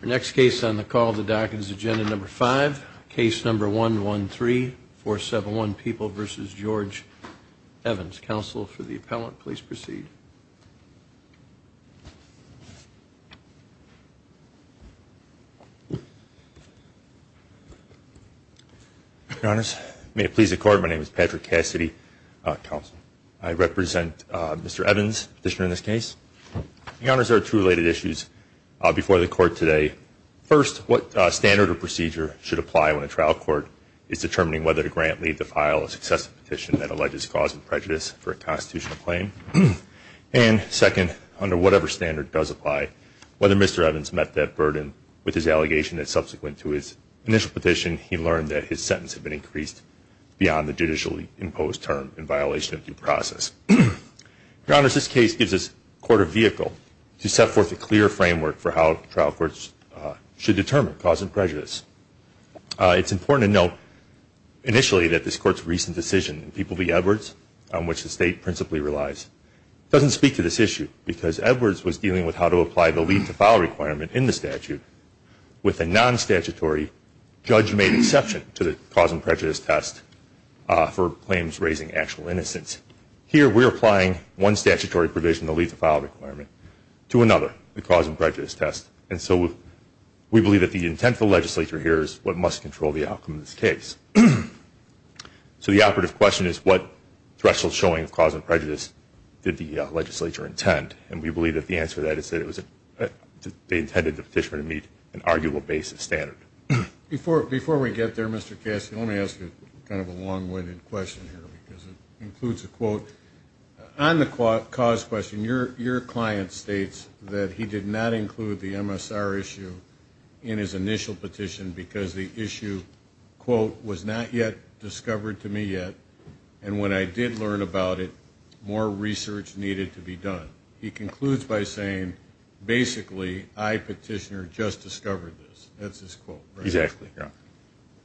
Our next case on the call of the docket is agenda number five, case number 113471 People v. George Evans. Counsel for the appellant, please proceed. Your Honors, may it please the Court, my name is Patrick Cassidy, counsel. I represent Mr. Evans, petitioner in this case. Your Honors, there are two related issues before the Court today. First, what standard or procedure should apply when a trial court is determining whether to grant, leave, or defile a successive petition that alleges cause of prejudice for a constitutional claim? And second, under whatever standard does apply, whether Mr. Evans met that burden with his allegation that subsequent to his initial petition he learned that his sentence had been increased beyond the judicially imposed term in violation of due process. Your Honors, this case gives us court a vehicle to set forth a clear framework for how trial courts should determine cause of prejudice. It's important to note initially that this Court's recent decision, People v. Edwards, on which the State principally relies, doesn't speak to this issue because Edwards was dealing with how to apply the leave to file requirement in the statute with a non-statutory judge-made exception to the cause of prejudice test for claims raising actual innocence. Here we're applying one statutory provision, the leave to file requirement, to another, the cause of prejudice test. And so we believe that the intent of the legislature here is what must control the outcome of this case. So the operative question is what threshold showing of cause of prejudice did the legislature intend? And we believe that the answer to that is that it was that they intended the petitioner to meet an arguable basis standard. Before we get there, Mr. Cassidy, let me ask you kind of a long-winded question here because it includes a quote. On the cause question, your client states that he did not include the MSR issue in his initial petition because the issue, quote, was not yet discovered to me yet, and when I did learn about it, more research needed to be done. He concludes by saying, basically, I, petitioner, just discovered this. That's his quote. Exactly, yeah.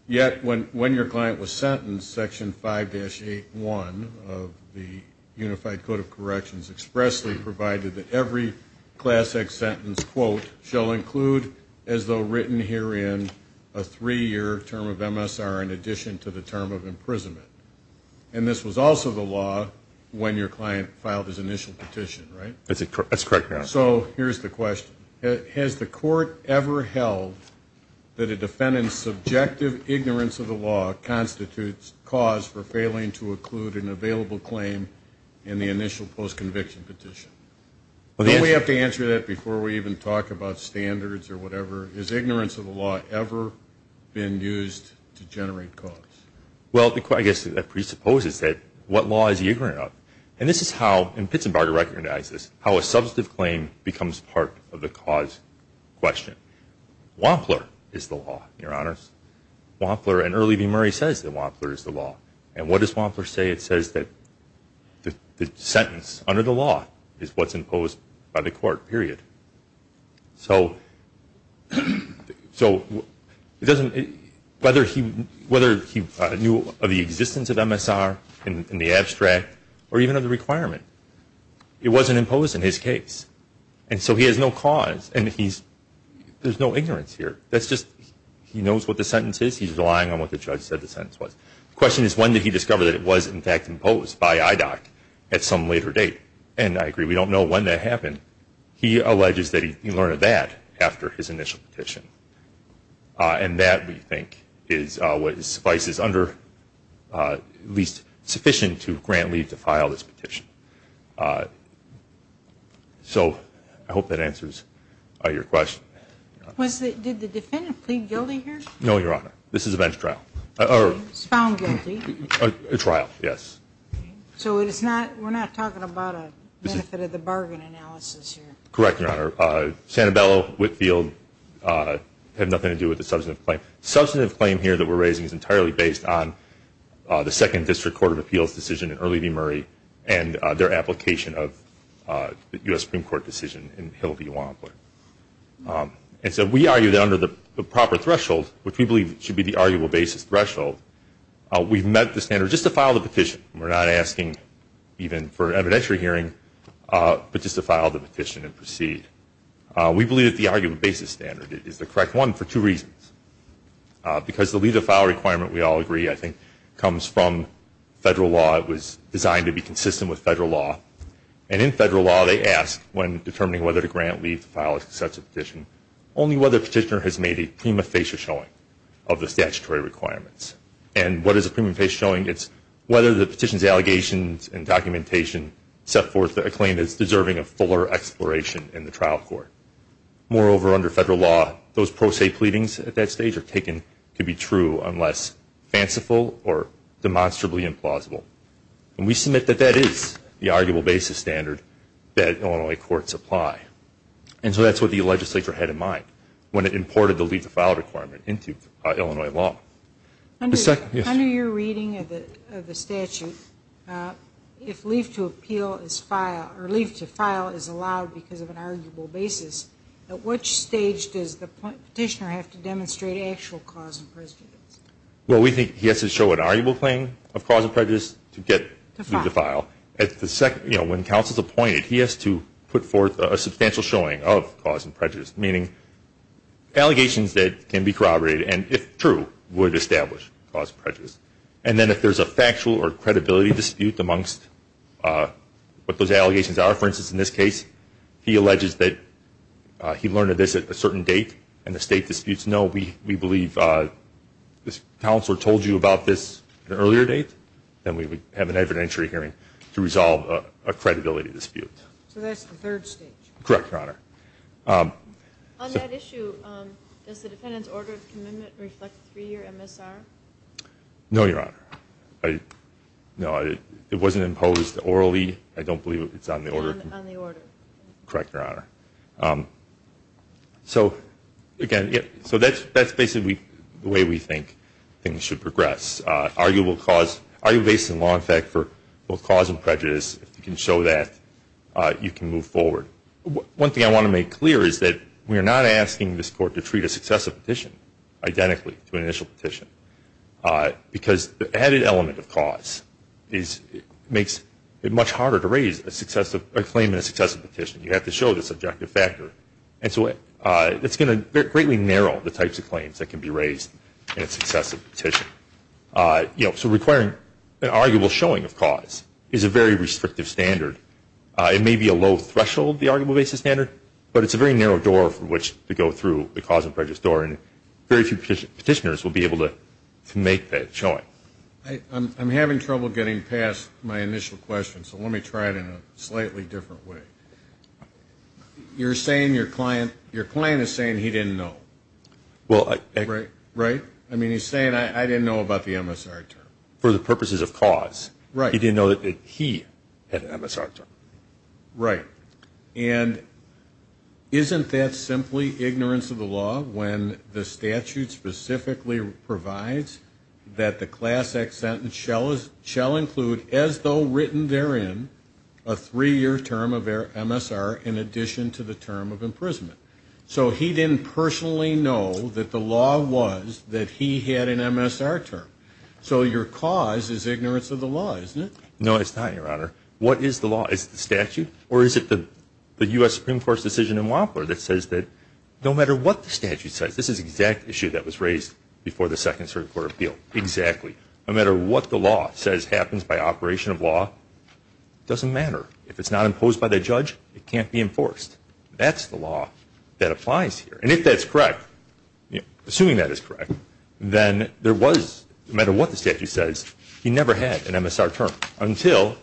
Yet when your client was sentenced, section 5-8.1 of the Unified Code of Corrections expressly provided that every class X sentence, quote, shall include, as though written herein, a three-year term of MSR in addition to the term of imprisonment. And this was also the law when your client filed his initial petition, right? That's correct, yeah. So here's the question. Has the law constitutes cause for failing to include an available claim in the initial post-conviction petition? Don't we have to answer that before we even talk about standards or whatever? Has ignorance of the law ever been used to generate cause? Well, I guess that presupposes that what law is eager enough? And this is how, and Pittsburgh recognizes, how a substantive claim becomes part of the cause question. Wampler is the law, your honors. Wampler and Early v. Murray says that Wampler is the law. And what does Wampler say? It says that the sentence under the law is what's imposed by the court, period. So it doesn't, whether he knew of the existence of MSR in the abstract or even of the requirement, it wasn't imposed in his case. And so he has no cause and he's, there's no ignorance here. That's just, he knows what the sentence is. He's relying on what the judge said the sentence was. The question is, when did he discover that it was in fact imposed by IDOC at some later date? And I agree, we don't know when that happened. He alleges that he learned that after his initial petition. And that, we think, is what suffices under, at least sufficient to grant leave to file this petition. So I know, your honor, this is a bench trial. It's found guilty. A trial, yes. So it's not, we're not talking about a benefit of the bargain analysis here. Correct, your honor. Sanabella, Whitfield, had nothing to do with the substantive claim. Substantive claim here that we're raising is entirely based on the Second District Court of Appeals decision in Early v. Murray and their application of the U.S. Supreme Court decision in Hill v. Wampler. And so we argue that under the proper threshold, which we believe should be the arguable basis threshold, we've met the standard just to file the petition. We're not asking even for evidentiary hearing, but just to file the petition and proceed. We believe that the arguable basis standard is the correct one for two reasons. Because the leave to file requirement, we all agree, I think, comes from federal law. It was designed to be consistent with federal law. And in federal law, they ask when determining whether to grant leave to file such a petition. The petitioner has made a prima facie showing of the statutory requirements. And what is a prima facie showing? It's whether the petition's allegations and documentation set forth a claim that's deserving of fuller exploration in the trial court. Moreover, under federal law, those pro se pleadings at that stage are taken to be true unless fanciful or demonstrably implausible. And we submit that that is the arguable basis standard that Illinois courts apply. And so that's what the legislature had in mind. When it imported the leave to file requirement into Illinois law. Under your reading of the statute, if leave to appeal is filed, or leave to file is allowed because of an arguable basis, at which stage does the petitioner have to demonstrate actual cause and prejudice? Well, we think he has to show an arguable claim of cause and prejudice to get leave to file. When counsel's appointed, he has to put forth a substantial showing of cause and prejudice, meaning allegations that can be corroborated and, if true, would establish cause and prejudice. And then if there's a factual or credibility dispute amongst what those allegations are, for instance, in this case, he alleges that he learned of this at a certain date and the state disputes, no, we believe this counselor told you about this at an earlier date, then we would have an evidentiary hearing to resolve a credibility dispute. So that's the third stage? Correct, Your Honor. On that issue, does the defendant's order of commitment reflect three-year MSR? No, Your Honor. No, it wasn't imposed orally. I don't believe it's on the order. On the order. Correct, Your Honor. So, again, so that's basically the way we think things should progress. Arguable cause, arguable basis in law, in fact, for both One thing I want to make clear is that we are not asking this Court to treat a successive petition identically to an initial petition, because the added element of cause makes it much harder to raise a claim in a successive petition. You have to show the subjective factor. And so it's going to greatly narrow the types of claims that can be raised in a successive petition. So requiring an arguable showing of cause is a very restrictive standard. It may be a low threshold, the arguable basis standard, but it's a very narrow door from which to go through the cause and prejudice door, and very few petitioners will be able to make that showing. I'm having trouble getting past my initial question, so let me try it in a slightly different way. You're saying your client is saying he didn't know. Right. Right? I mean, he's saying, I didn't know about the MSR term. For the purposes of cause. Right. He didn't know that he had an MSR term. Right. And isn't that simply ignorance of the law when the statute specifically provides that the class act sentence shall include, as though written therein, a three-year term of MSR in addition to the term of imprisonment? So he didn't personally know that the law was that he had an MSR term. So your cause is No, it's not, Your Honor. What is the law? Is it the statute, or is it the US Supreme Court's decision in Wampara that says that no matter what the statute says, this is the exact issue that was raised before the Second Circuit Court of Appeal. Exactly. No matter what the law says happens by operation of law, doesn't matter. If it's not imposed by the judge, it can't be enforced. That's the law that applies here. And if that's correct, assuming that is correct, then there was, no matter what the statute says, he never had an MSR term until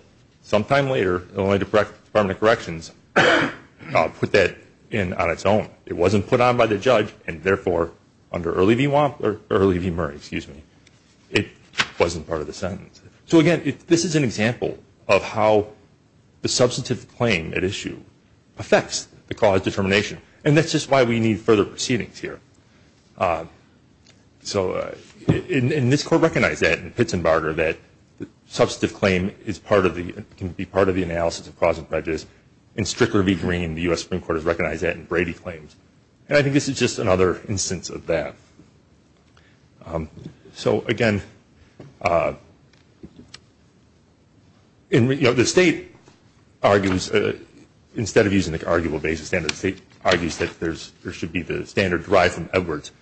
sometime later, Illinois Department of Corrections put that in on its own. It wasn't put on by the judge, and therefore, under Early v. Murray, it wasn't part of the sentence. So again, this is an example of how the substantive claim at issue affects the cause determination. And that's just why we need further proceedings here. So, and this Court recognized that in Pitts and Barger, that the substantive claim is part of the, can be part of the analysis of cause and prejudice. In Strickler v. Green, the US Supreme Court has recognized that in Brady claims. And I think this is just another instance of that. So again, you know, the state argues, instead of using the arguable basis standard, the state argues that there should be the standard derived from Edwards,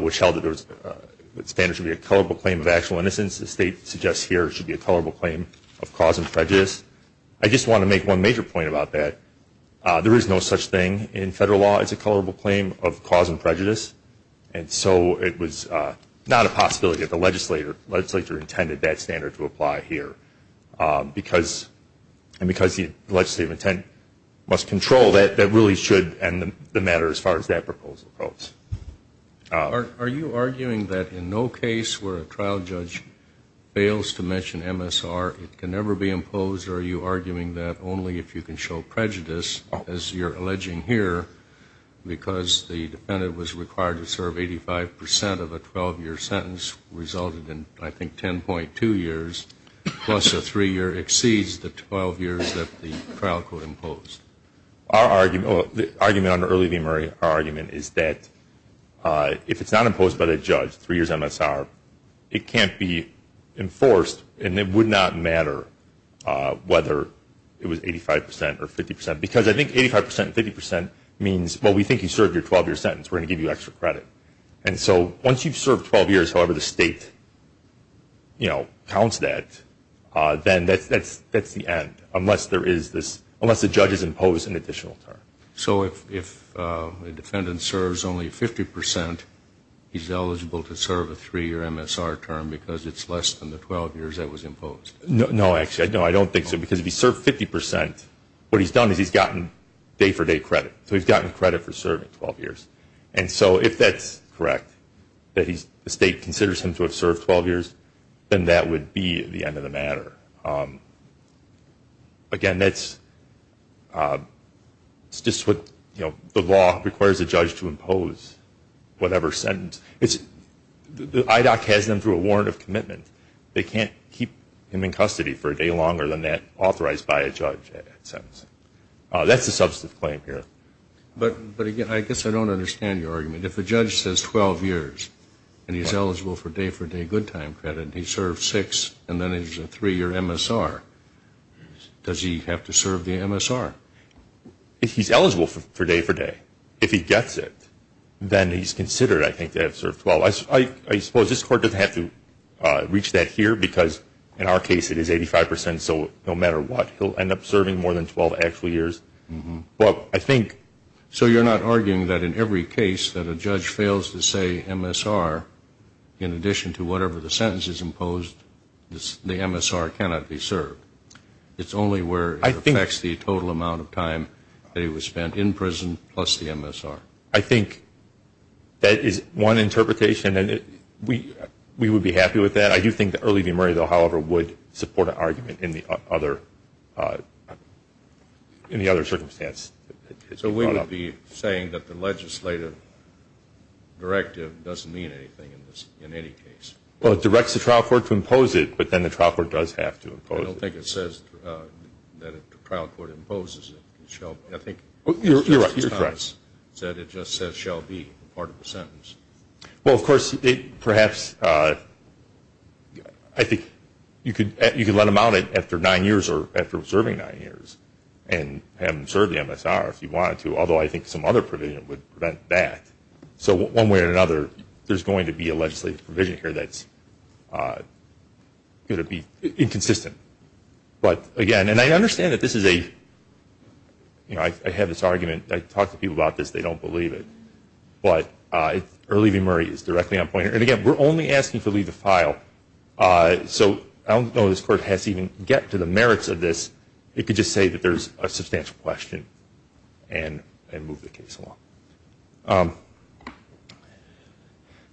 which held that the standard should be a colorable claim of actual innocence. The state suggests here it should be a colorable claim of cause and prejudice. I just want to make one major point about that. There is no such thing in federal law as a colorable claim of cause and prejudice. And so it was not a possibility that the legislature intended that standard to be used. And because the legislative intent must control that, that really should end the matter as far as that proposal goes. Are you arguing that in no case where a trial judge fails to mention MSR, it can never be imposed? Or are you arguing that only if you can show prejudice, as you're alleging here, because the defendant was required to serve 85 percent of a 12-year sentence resulted in, I think, 10.2 years, plus a three-year exceeds the 12 years that the trial court imposed? Our argument, the argument under Early v. Murray, our argument is that if it's not imposed by the judge, three years MSR, it can't be enforced and it would not matter whether it was 85 percent or 50 percent. Because I think 85 percent and 50 percent means, well, we think you served your 12-year sentence. We're going to give you extra credit. And so once you've served 12 years, however the state, you know, counts that, then that's the end, unless there is this, unless the judge has imposed an additional term. So if a defendant serves only 50 percent, he's eligible to serve a three-year MSR term because it's less than the 12 years that was imposed? No, actually. No, I don't think so. Because if he served 50 percent, what he's done is he's gotten day-for-day credit. So he's gotten credit for him to have served 12 years, then that would be the end of the matter. Again, that's, it's just what, you know, the law requires a judge to impose whatever sentence. It's, the IDOC has them through a warrant of commitment. They can't keep him in custody for a day longer than that, authorized by a judge, that sentence. That's a substantive claim here. But again, I guess I don't understand your argument. If a judge says 12 years and he's eligible for day-for-day good time credit, and he served six, and then it's a three-year MSR, does he have to serve the MSR? If he's eligible for day-for-day, if he gets it, then he's considered, I think, to have served 12. I suppose this Court doesn't have to reach that here because, in our case, it is 85 percent, so no matter what, he'll end up serving more than 12 actual years. But I think... So you're not arguing that in every case that a judge fails to say MSR, in addition to whatever the sentence is imposed, the MSR cannot be served. It's only where it affects the total amount of time that he was spent in prison, plus the MSR. I think that is one interpretation, and we would be happy with that. I do think the early demerit, though, however, would support an argument in the other, in the other circumstance. So we would be saying that the legislative directive doesn't mean anything in this, in any case? Well, it directs the trial court to impose it, but then the trial court does have to impose it. I don't think it says that if the trial court imposes it, it shall be. I think... You're right. You're correct. It just says, shall be, part of the sentence. Well, of course, perhaps, I think you could let him out after nine years, or have him serve the MSR if you wanted to, although I think some other provision would prevent that. So one way or another, there's going to be a legislative provision here that's going to be inconsistent. But, again, and I understand that this is a, you know, I have this argument. I talk to people about this. They don't believe it. But early demerit is directly on point. And, again, we're only asking to leave the file. So I don't know if this court has to even get to the merits of this. It could just say that there's a substantial question and move the case along.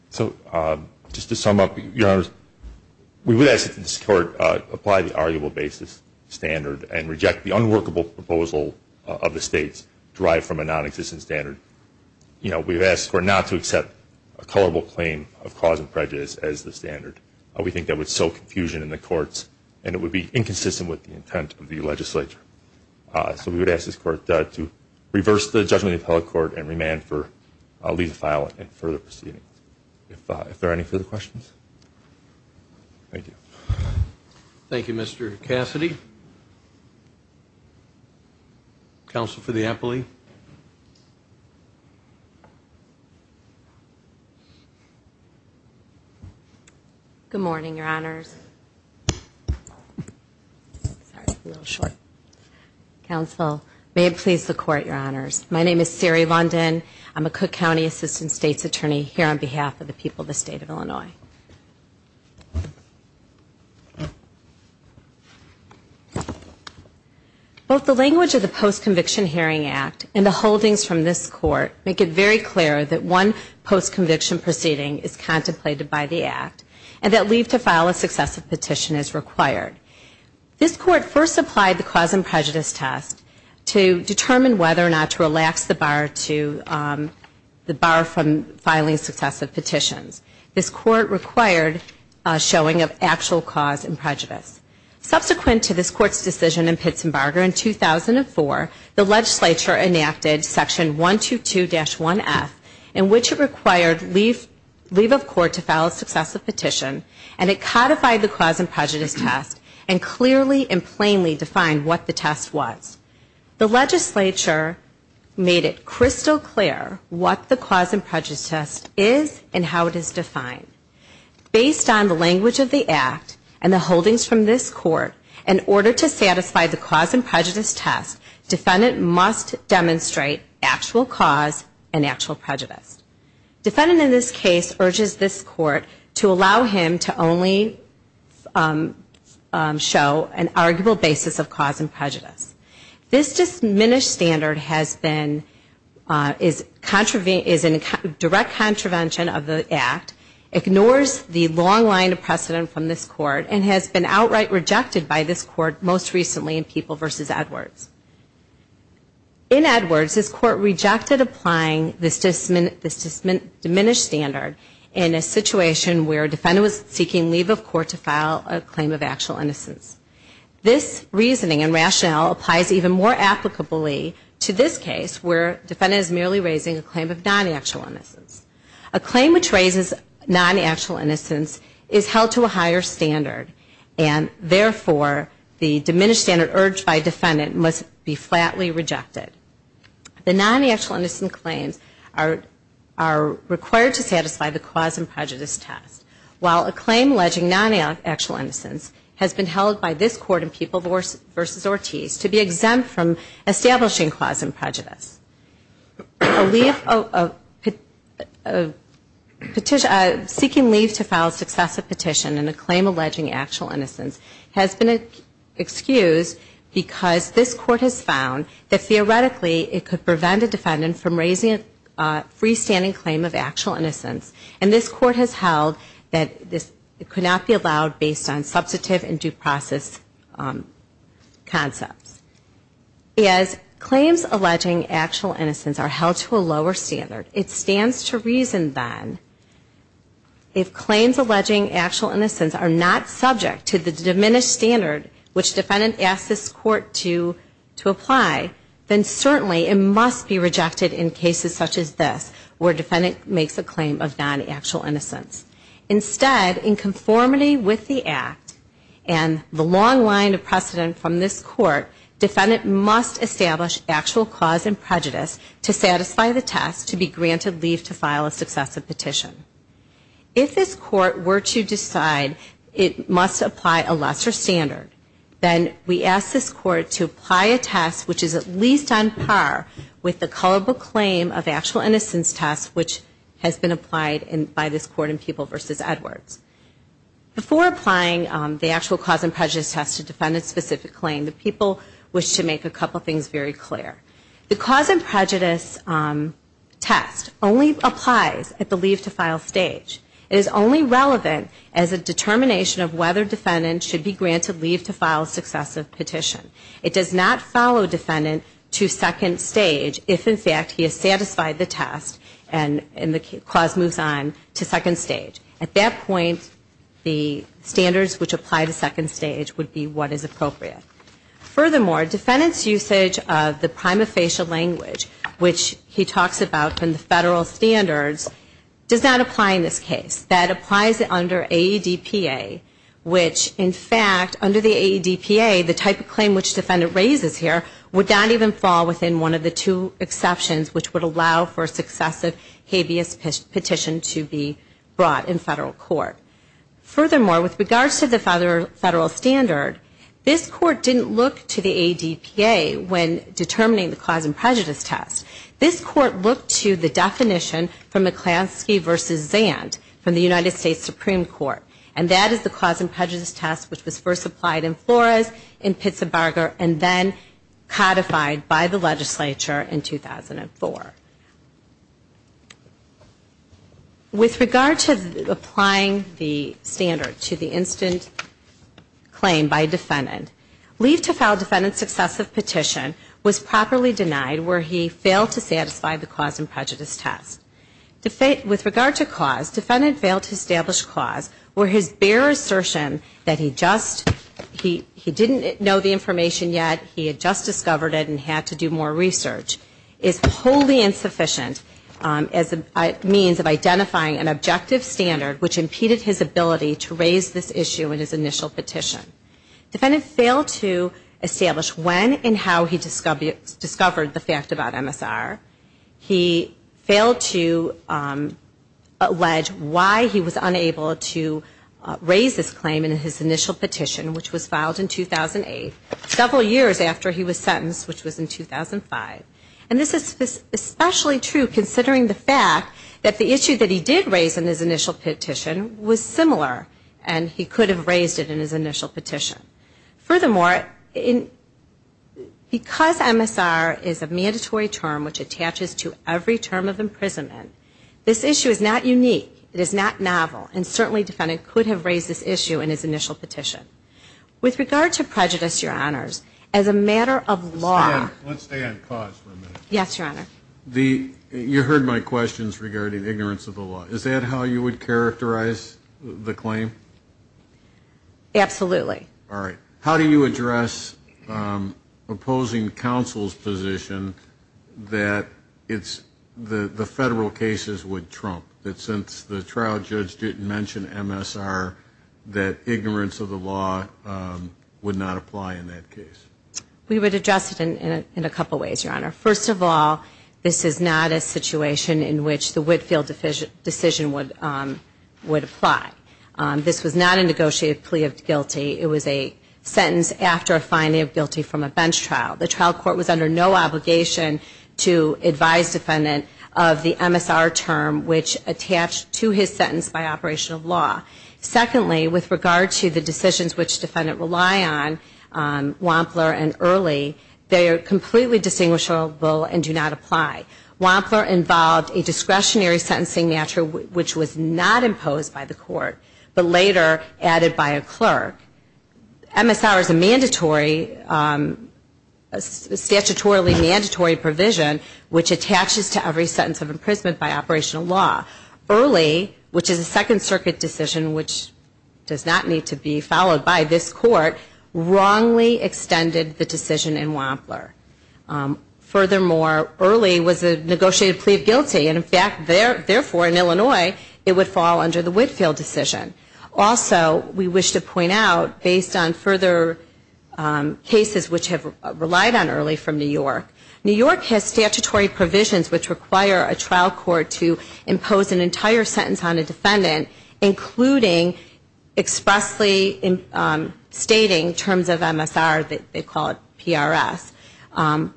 So just to sum up, Your Honors, we would ask that this court apply the arguable basis standard and reject the unworkable proposal of the states derived from a non-existent standard. You know, we've asked the court not to accept a colorable claim of cause and prejudice as the standard. We think that would sow confusion in the courts, and it would be inconsistent with the intent of the legislature. So we would ask this court to reverse the judgment of the appellate court and remand for leaving the file and further proceedings. If there are any further questions. Thank you. Thank you, Mr. Cassidy. Counsel for the appellee. Good morning, Your Honors. Sorry, I'm a little short. Counsel, may it please the court, Your Honors. My name is Siri London. I'm a Cook County Assistant State's Attorney here on behalf of the people of the State of Illinois. Both the language of the Post-Conviction Hearing Act and the holdings from this court make it very clear that one post-conviction proceeding is contemplated by the Act and that leave to file a successive petition is required. This court first applied the cause and prejudice test to determine whether or not to relax the bar from filing successive petitions. This court required a showing of actual cause and prejudice. Subsequent to this court's decision in Pittsburgh in 2004, the legislature enacted section 122-1F in which it required leave of court to file a successive petition and it codified the cause and prejudice test and clearly and plainly defined what the test was. The legislature made it crystal clear what the cause and prejudice test is and how it is defined. Based on the language of the Act and the holdings from this court, in order to satisfy the cause and prejudice test, defendant must demonstrate actual cause and actual prejudice. Defendant in this case urges this court to allow him to only show an arguable basis of cause and prejudice. This diminished standard is in direct contravention of the Act, ignores the long line of precedent from this court, and has been outright rejected by this court most recently in People v. Edwards. In Edwards, this court rejected applying this diminished standard in a situation where a defendant was seeking leave of court to file a claim of actual innocence. This reasoning and rationale applies even more applicably to this case where defendant is merely raising a claim of non-actual innocence. A claim which raises non-actual innocence is held to a higher standard and therefore the diminished standard urged by defendant must be flatly rejected. The non-actual innocent claims are required to satisfy the cause and prejudice test. While a claim alleging non-actual innocence has been held by this court in People v. Ortiz to be exempt from establishing cause and prejudice. Seeking leave to file a successive petition in a claim alleging actual innocence has been excused because this court has found that theoretically it could prevent a defendant from raising a freestanding claim of actual innocence, that this could not be allowed based on substantive and due process concepts. As claims alleging actual innocence are held to a lower standard, it stands to reason then if claims alleging actual innocence are not subject to the diminished standard which defendant asks this court to apply, then certainly it must be rejected in cases such as this where defendant makes a claim alleging non-actual innocence. Instead, in conformity with the act and the long line of precedent from this court, defendant must establish actual cause and prejudice to satisfy the test to be granted leave to file a successive petition. If this court were to decide it must apply a lesser standard, then we ask this court to apply a test which is at least on par with the culpable claim of innocence by this court in People v. Edwards. Before applying the actual cause and prejudice test to defendant's specific claim, the people wish to make a couple things very clear. The cause and prejudice test only applies at the leave to file stage. It is only relevant as a determination of whether defendant should be granted leave to file a successive petition. It does not follow defendant to second stage if in fact he has satisfied the test and the cause moves on to second stage. At that point, the standards which apply to second stage would be what is appropriate. Furthermore, defendant's usage of the prima facie language, which he talks about in the federal standards, does not apply in this case. That applies under AEDPA, which in fact under the AEDPA, the type of claim which defendant raises here would not even fall within one of the two exceptions which would allow for a successive habeas petition to be brought in federal court. Furthermore, with regards to the federal standard, this court didn't look to the AEDPA when determining the cause and prejudice test. This court looked to the definition from McClansky v. Zandt from the United States Supreme Court. And that is the cause and prejudice test which was first applied in Flores, in 2004. With regard to applying the standard to the instant claim by defendant, leave to file defendant's successive petition was properly denied where he failed to satisfy the cause and prejudice test. With regard to cause, defendant failed to establish cause where his bare assertion that he just, he didn't know the information yet, he had just found out that he was wholly insufficient as a means of identifying an objective standard which impeded his ability to raise this issue in his initial petition. Defendant failed to establish when and how he discovered the fact about MSR. He failed to allege why he was unable to raise this claim in his initial petition which was filed in 2008, several years after he was sentenced which was in 2005. And this is especially true considering the fact that the issue that he did raise in his initial petition was similar and he could have raised it in his initial petition. Furthermore, because MSR is a mandatory term which attaches to every term of imprisonment, this issue is not unique. It is not novel and certainly defendant could have raised this issue in his initial petition. With regard to prejudice, your honors, as a matter of law. Let's stay on cause for a minute. Yes, your honor. You heard my questions regarding ignorance of the law. Is that how you would characterize the claim? Absolutely. All right. How do you address opposing counsel's position that it's, the federal cases would trump, that since the trial judge didn't mention MSR, that ignorance of law would not apply in that case? We would address it in a couple ways, your honor. First of all, this is not a situation in which the Whitfield decision would apply. This was not a negotiated plea of guilty. It was a sentence after a finding of guilty from a bench trial. The trial court was under no obligation to advise defendant of the MSR term which attached to his sentence by operation of law. Secondly, with regard to the decisions which defendant rely on, Wampler and Early, they are completely distinguishable and do not apply. Wampler involved a discretionary sentencing matter which was not imposed by the court, but later added by a clerk. MSR is a mandatory, statutorily mandatory provision which attaches to every sentence of imprisonment by operation of law. Early, which is a Second Circuit decision which does not need to be followed by this court, wrongly extended the decision in Wampler. Furthermore, Early was a negotiated plea of guilty, and in fact, therefore in Illinois, it would fall under the Whitfield decision. Also, we wish to point out, based on further cases which have relied on Early from New York, New York has statutory provisions which require a trial court to impose an entire sentence on a defendant, including expressly stating terms of MSR, they call it PRS.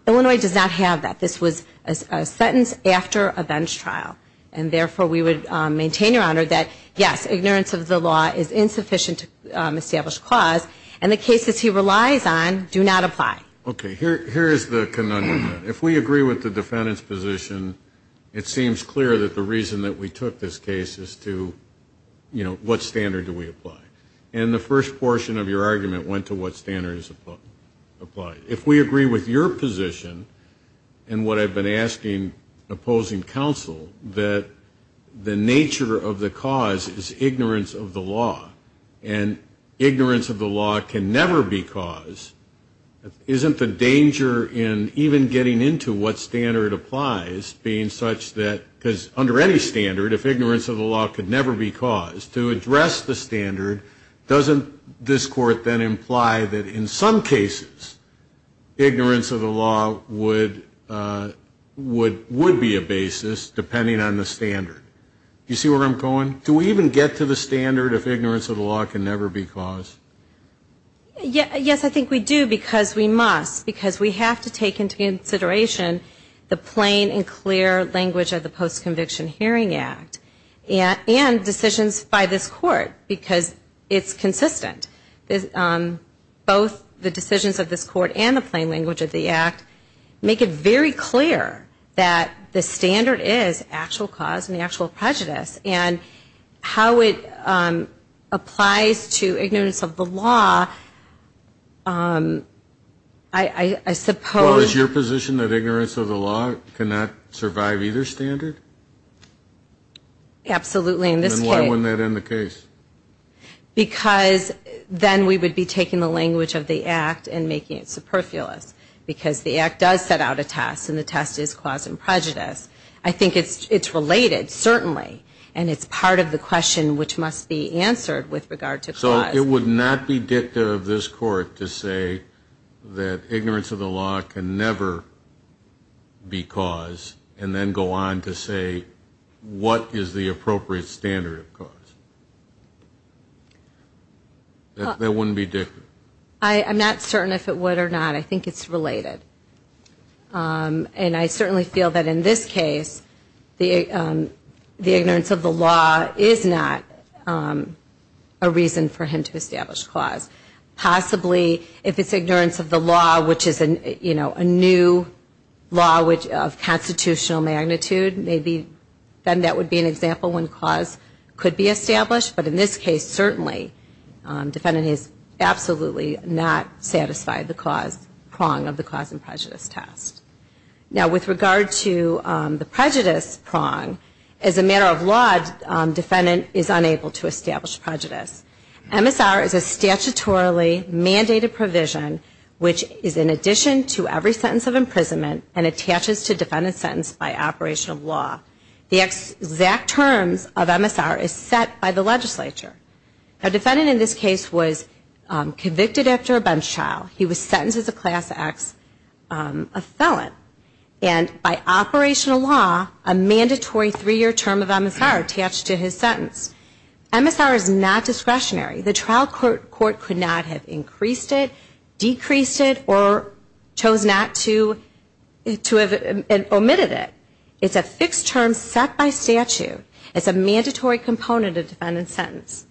Illinois does not have that. This was a sentence after a bench trial, and therefore we would maintain, Your Honor, that yes, ignorance of the law is insufficient to establish clause, and the cases he relies on do not apply. Okay. Here is the conundrum. If we agree with the defendant's position, it seems clear that the reason that we took this case is to, you know, what standard do we apply? And the first portion of your argument went to what standard is applied. If we agree with your position, and what I have been asking opposing counsel, that the nature of the cause is ignorance of the law, and ignorance of the law can never be cause, isn't the danger in even getting into what standard applies being such that, because under any standard, if ignorance of the law could never be cause, to address the standard, doesn't this court then imply that in some cases, ignorance of the law would be a basis, depending on the standard? Do you see where I'm going? Do we even get to the standard if ignorance of the law can never be cause? Yes, I think we do, because we must, because we have to take into consideration the plain and clear language of the Post-Conviction Hearing Act, and decisions by this court, because it's consistent. Both the decisions of this court and the plain language of the act make it very clear that the standard is actual cause and actual prejudice, and how it applies to ignorance of the law, I suppose. Well, is your position that ignorance of the law cannot survive either standard? Absolutely, in this case. Then why wouldn't that end the case? Because then we would be taking the language of the act and making it clear that the test is cause and prejudice. I think it's related, certainly, and it's part of the question which must be answered with regard to cause. So it would not be dicta of this court to say that ignorance of the law can never be cause, and then go on to say, what is the appropriate standard of cause? That wouldn't be dicta? I'm not certain if it would or not. I think it's related. And I certainly feel that in this case, the ignorance of the law is not a reason for him to establish cause. Possibly, if it's ignorance of the law, which is a new law of constitutional magnitude, maybe then that would be an example when cause could be established. But in this case, certainly, defendant has absolutely not satisfied the cause prong of the cause and prejudice test. Now, with regard to the prejudice prong, as a matter of law, defendant is unable to establish prejudice. MSR is a statutorily mandated provision which is in addition to every sentence of imprisonment and attaches to defendant's sentence by operation of law. The exact terms of MSR is set by the legislature. A defendant in this case was convicted after a bench trial. He was sentenced as a class X, a felon, and by operational law, a mandatory three-year term of MSR attached to his sentence. MSR is not discretionary. The trial court could not have increased it, decreased it, or chose not to have omitted it. It's a fixed term set by statute. It's a mandatory component of defendant's sentence.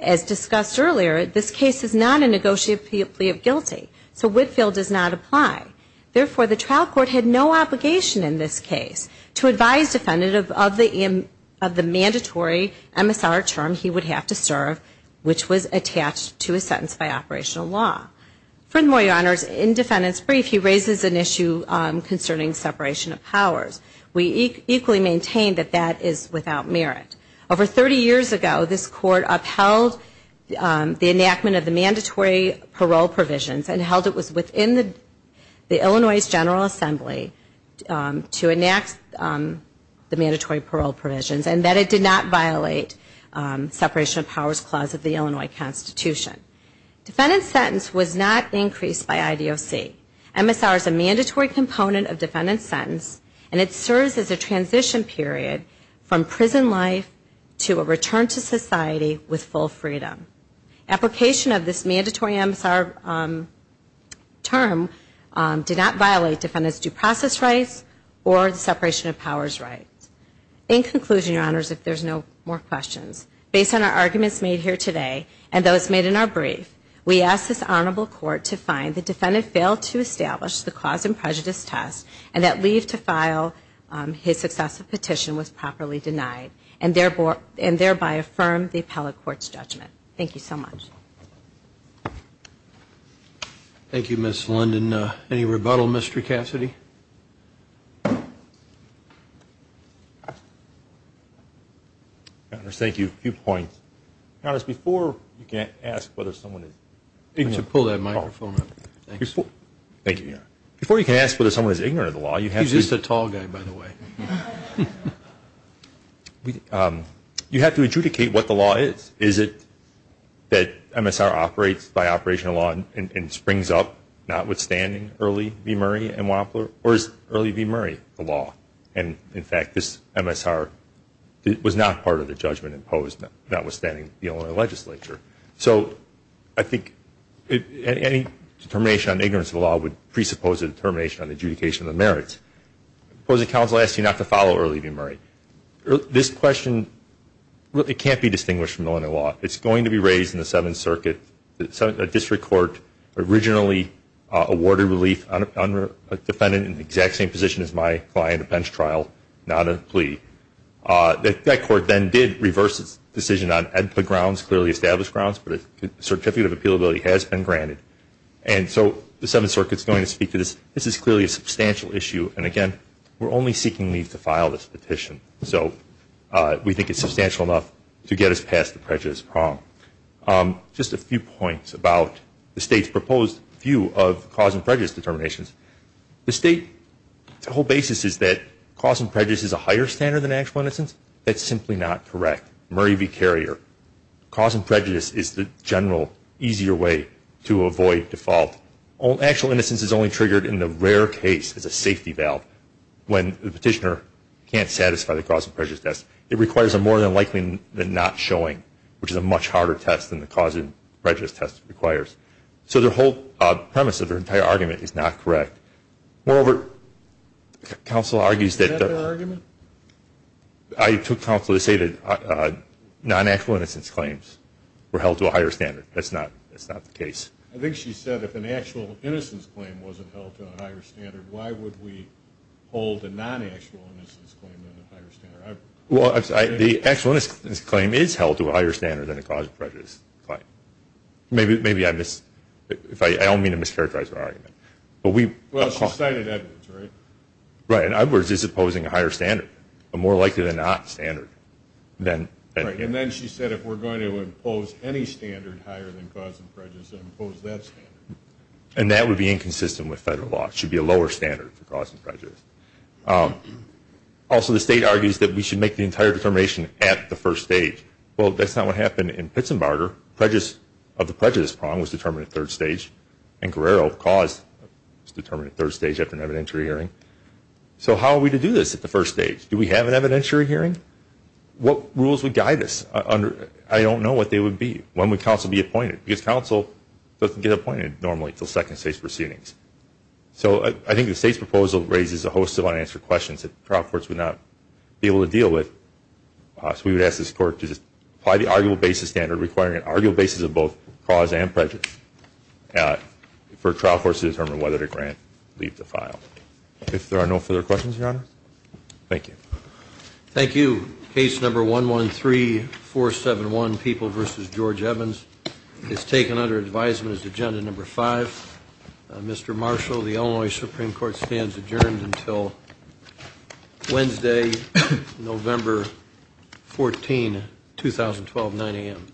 As discussed earlier, this case is not a negotiated plea of guilty. So Whitfield does not apply. Therefore, the trial court had no obligation in this case to advise defendant of the mandatory MSR term he would have to serve, which was attached to his sentence by operational law. Furthermore, your honors, in defendant's brief, he raises an issue concerning separation of powers. We equally maintain that that is without merit. Over 30 years ago, this court upheld the enactment of the mandatory parole provisions and held it was within the Illinois General Assembly to enact the mandatory parole provisions and that it did not violate separation of powers clause of the Illinois Constitution. Defendant's sentence was not increased by IDOC. MSR is a mandatory component of defendant's sentence and it serves as a transition period from prison life to a return to society with full freedom. Application of this mandatory MSR term did not violate defendant's due process rights or the separation of powers rights. In conclusion, your honors, if there's no more questions, based on our brief, we ask this honorable court to find the defendant failed to establish the cause and prejudice test and that leave to file his successive petition was properly denied and thereby affirm the appellate court's judgment. Thank you so much. Thank you, Ms. London. Any rebuttal, Mr. Cassidy? Thank you. A few points. Your honors, before you can ask whether someone is ignorant. Why don't you pull that microphone up? Thank you, your honor. Before you can ask whether someone is ignorant of the law, you have to. He's just a tall guy, by the way. You have to adjudicate what the law is. Is it that MSR operates by operational law and springs up, notwithstanding Early v. Murray and Wapler? Or is Early v. Murray the law? And, in fact, this MSR was not part of the judgment imposed, notwithstanding the Illinois legislature. So I think any determination on ignorance of the law would presuppose a determination on adjudication of the merits. The opposing counsel asks you not to follow Early v. Murray. This question, it can't be distinguished from Illinois law. It's going to be raised in the Seventh Circuit, a district court originally awarded relief on a defendant in the exact same position as my client, a bench trial, not a plea. That court then did reverse its decision on EDPA grounds, clearly established grounds, but a certificate of appealability has been granted. And so the Seventh Circuit is going to speak to this. This is clearly a substantial issue. And, again, we're only seeking leave to file this petition. So we think it's substantial enough to get us past the prejudice prong. Just a few points about the State's proposed view of cause and prejudice determinations. The State's whole basis is that cause and prejudice is a higher standard than actual innocence. That's simply not correct. Murray v. Carrier. Cause and prejudice is the general, easier way to avoid default. Actual innocence is only triggered in the rare case, as a safety valve, when the petitioner can't satisfy the cause and prejudice test. It requires a more than likely than not showing, which is a much harder test than the cause and prejudice test requires. So the whole premise of her entire argument is not correct. Moreover, counsel argues that the – Is that her argument? I took counsel to say that non-actual innocence claims were held to a higher standard. That's not the case. I think she said if an actual innocence claim wasn't held to a higher standard, why would we hold a non-actual innocence claim to a higher standard? Well, the actual innocence claim is held to a higher standard than a cause and prejudice claim. Maybe I miss – I don't mean to mischaracterize her argument. Well, she cited evidence, right? Right. In other words, it's opposing a higher standard, a more likely than not standard. And then she said if we're going to impose any standard higher than cause and prejudice, then impose that standard. And that would be inconsistent with federal law. It should be a lower standard for cause and prejudice. Also, the state argues that we should make the entire determination at the first stage. Well, that's not what happened in Pitzenbarger. Prejudice – of the prejudice prong was determined at third stage, and Guerrero of cause was determined at third stage after an evidentiary hearing. So how are we to do this at the first stage? Do we have an evidentiary hearing? What rules would guide us? I don't know what they would be. When would counsel be appointed? Because counsel doesn't get appointed normally until second state proceedings. So I think the state's proposal raises a host of unanswered questions that trial courts would not be able to deal with. So we would ask this Court to just apply the arguable basis standard requiring an arguable basis of both cause and prejudice for trial courts to determine whether to grant or leave the file. If there are no further questions, Your Honor, thank you. Thank you. Case number 113471, People v. George Evans, is taken under advisement as agenda number five. Mr. Marshall, the Illinois Supreme Court stands adjourned until Wednesday, November 14, 2012, 9 a.m.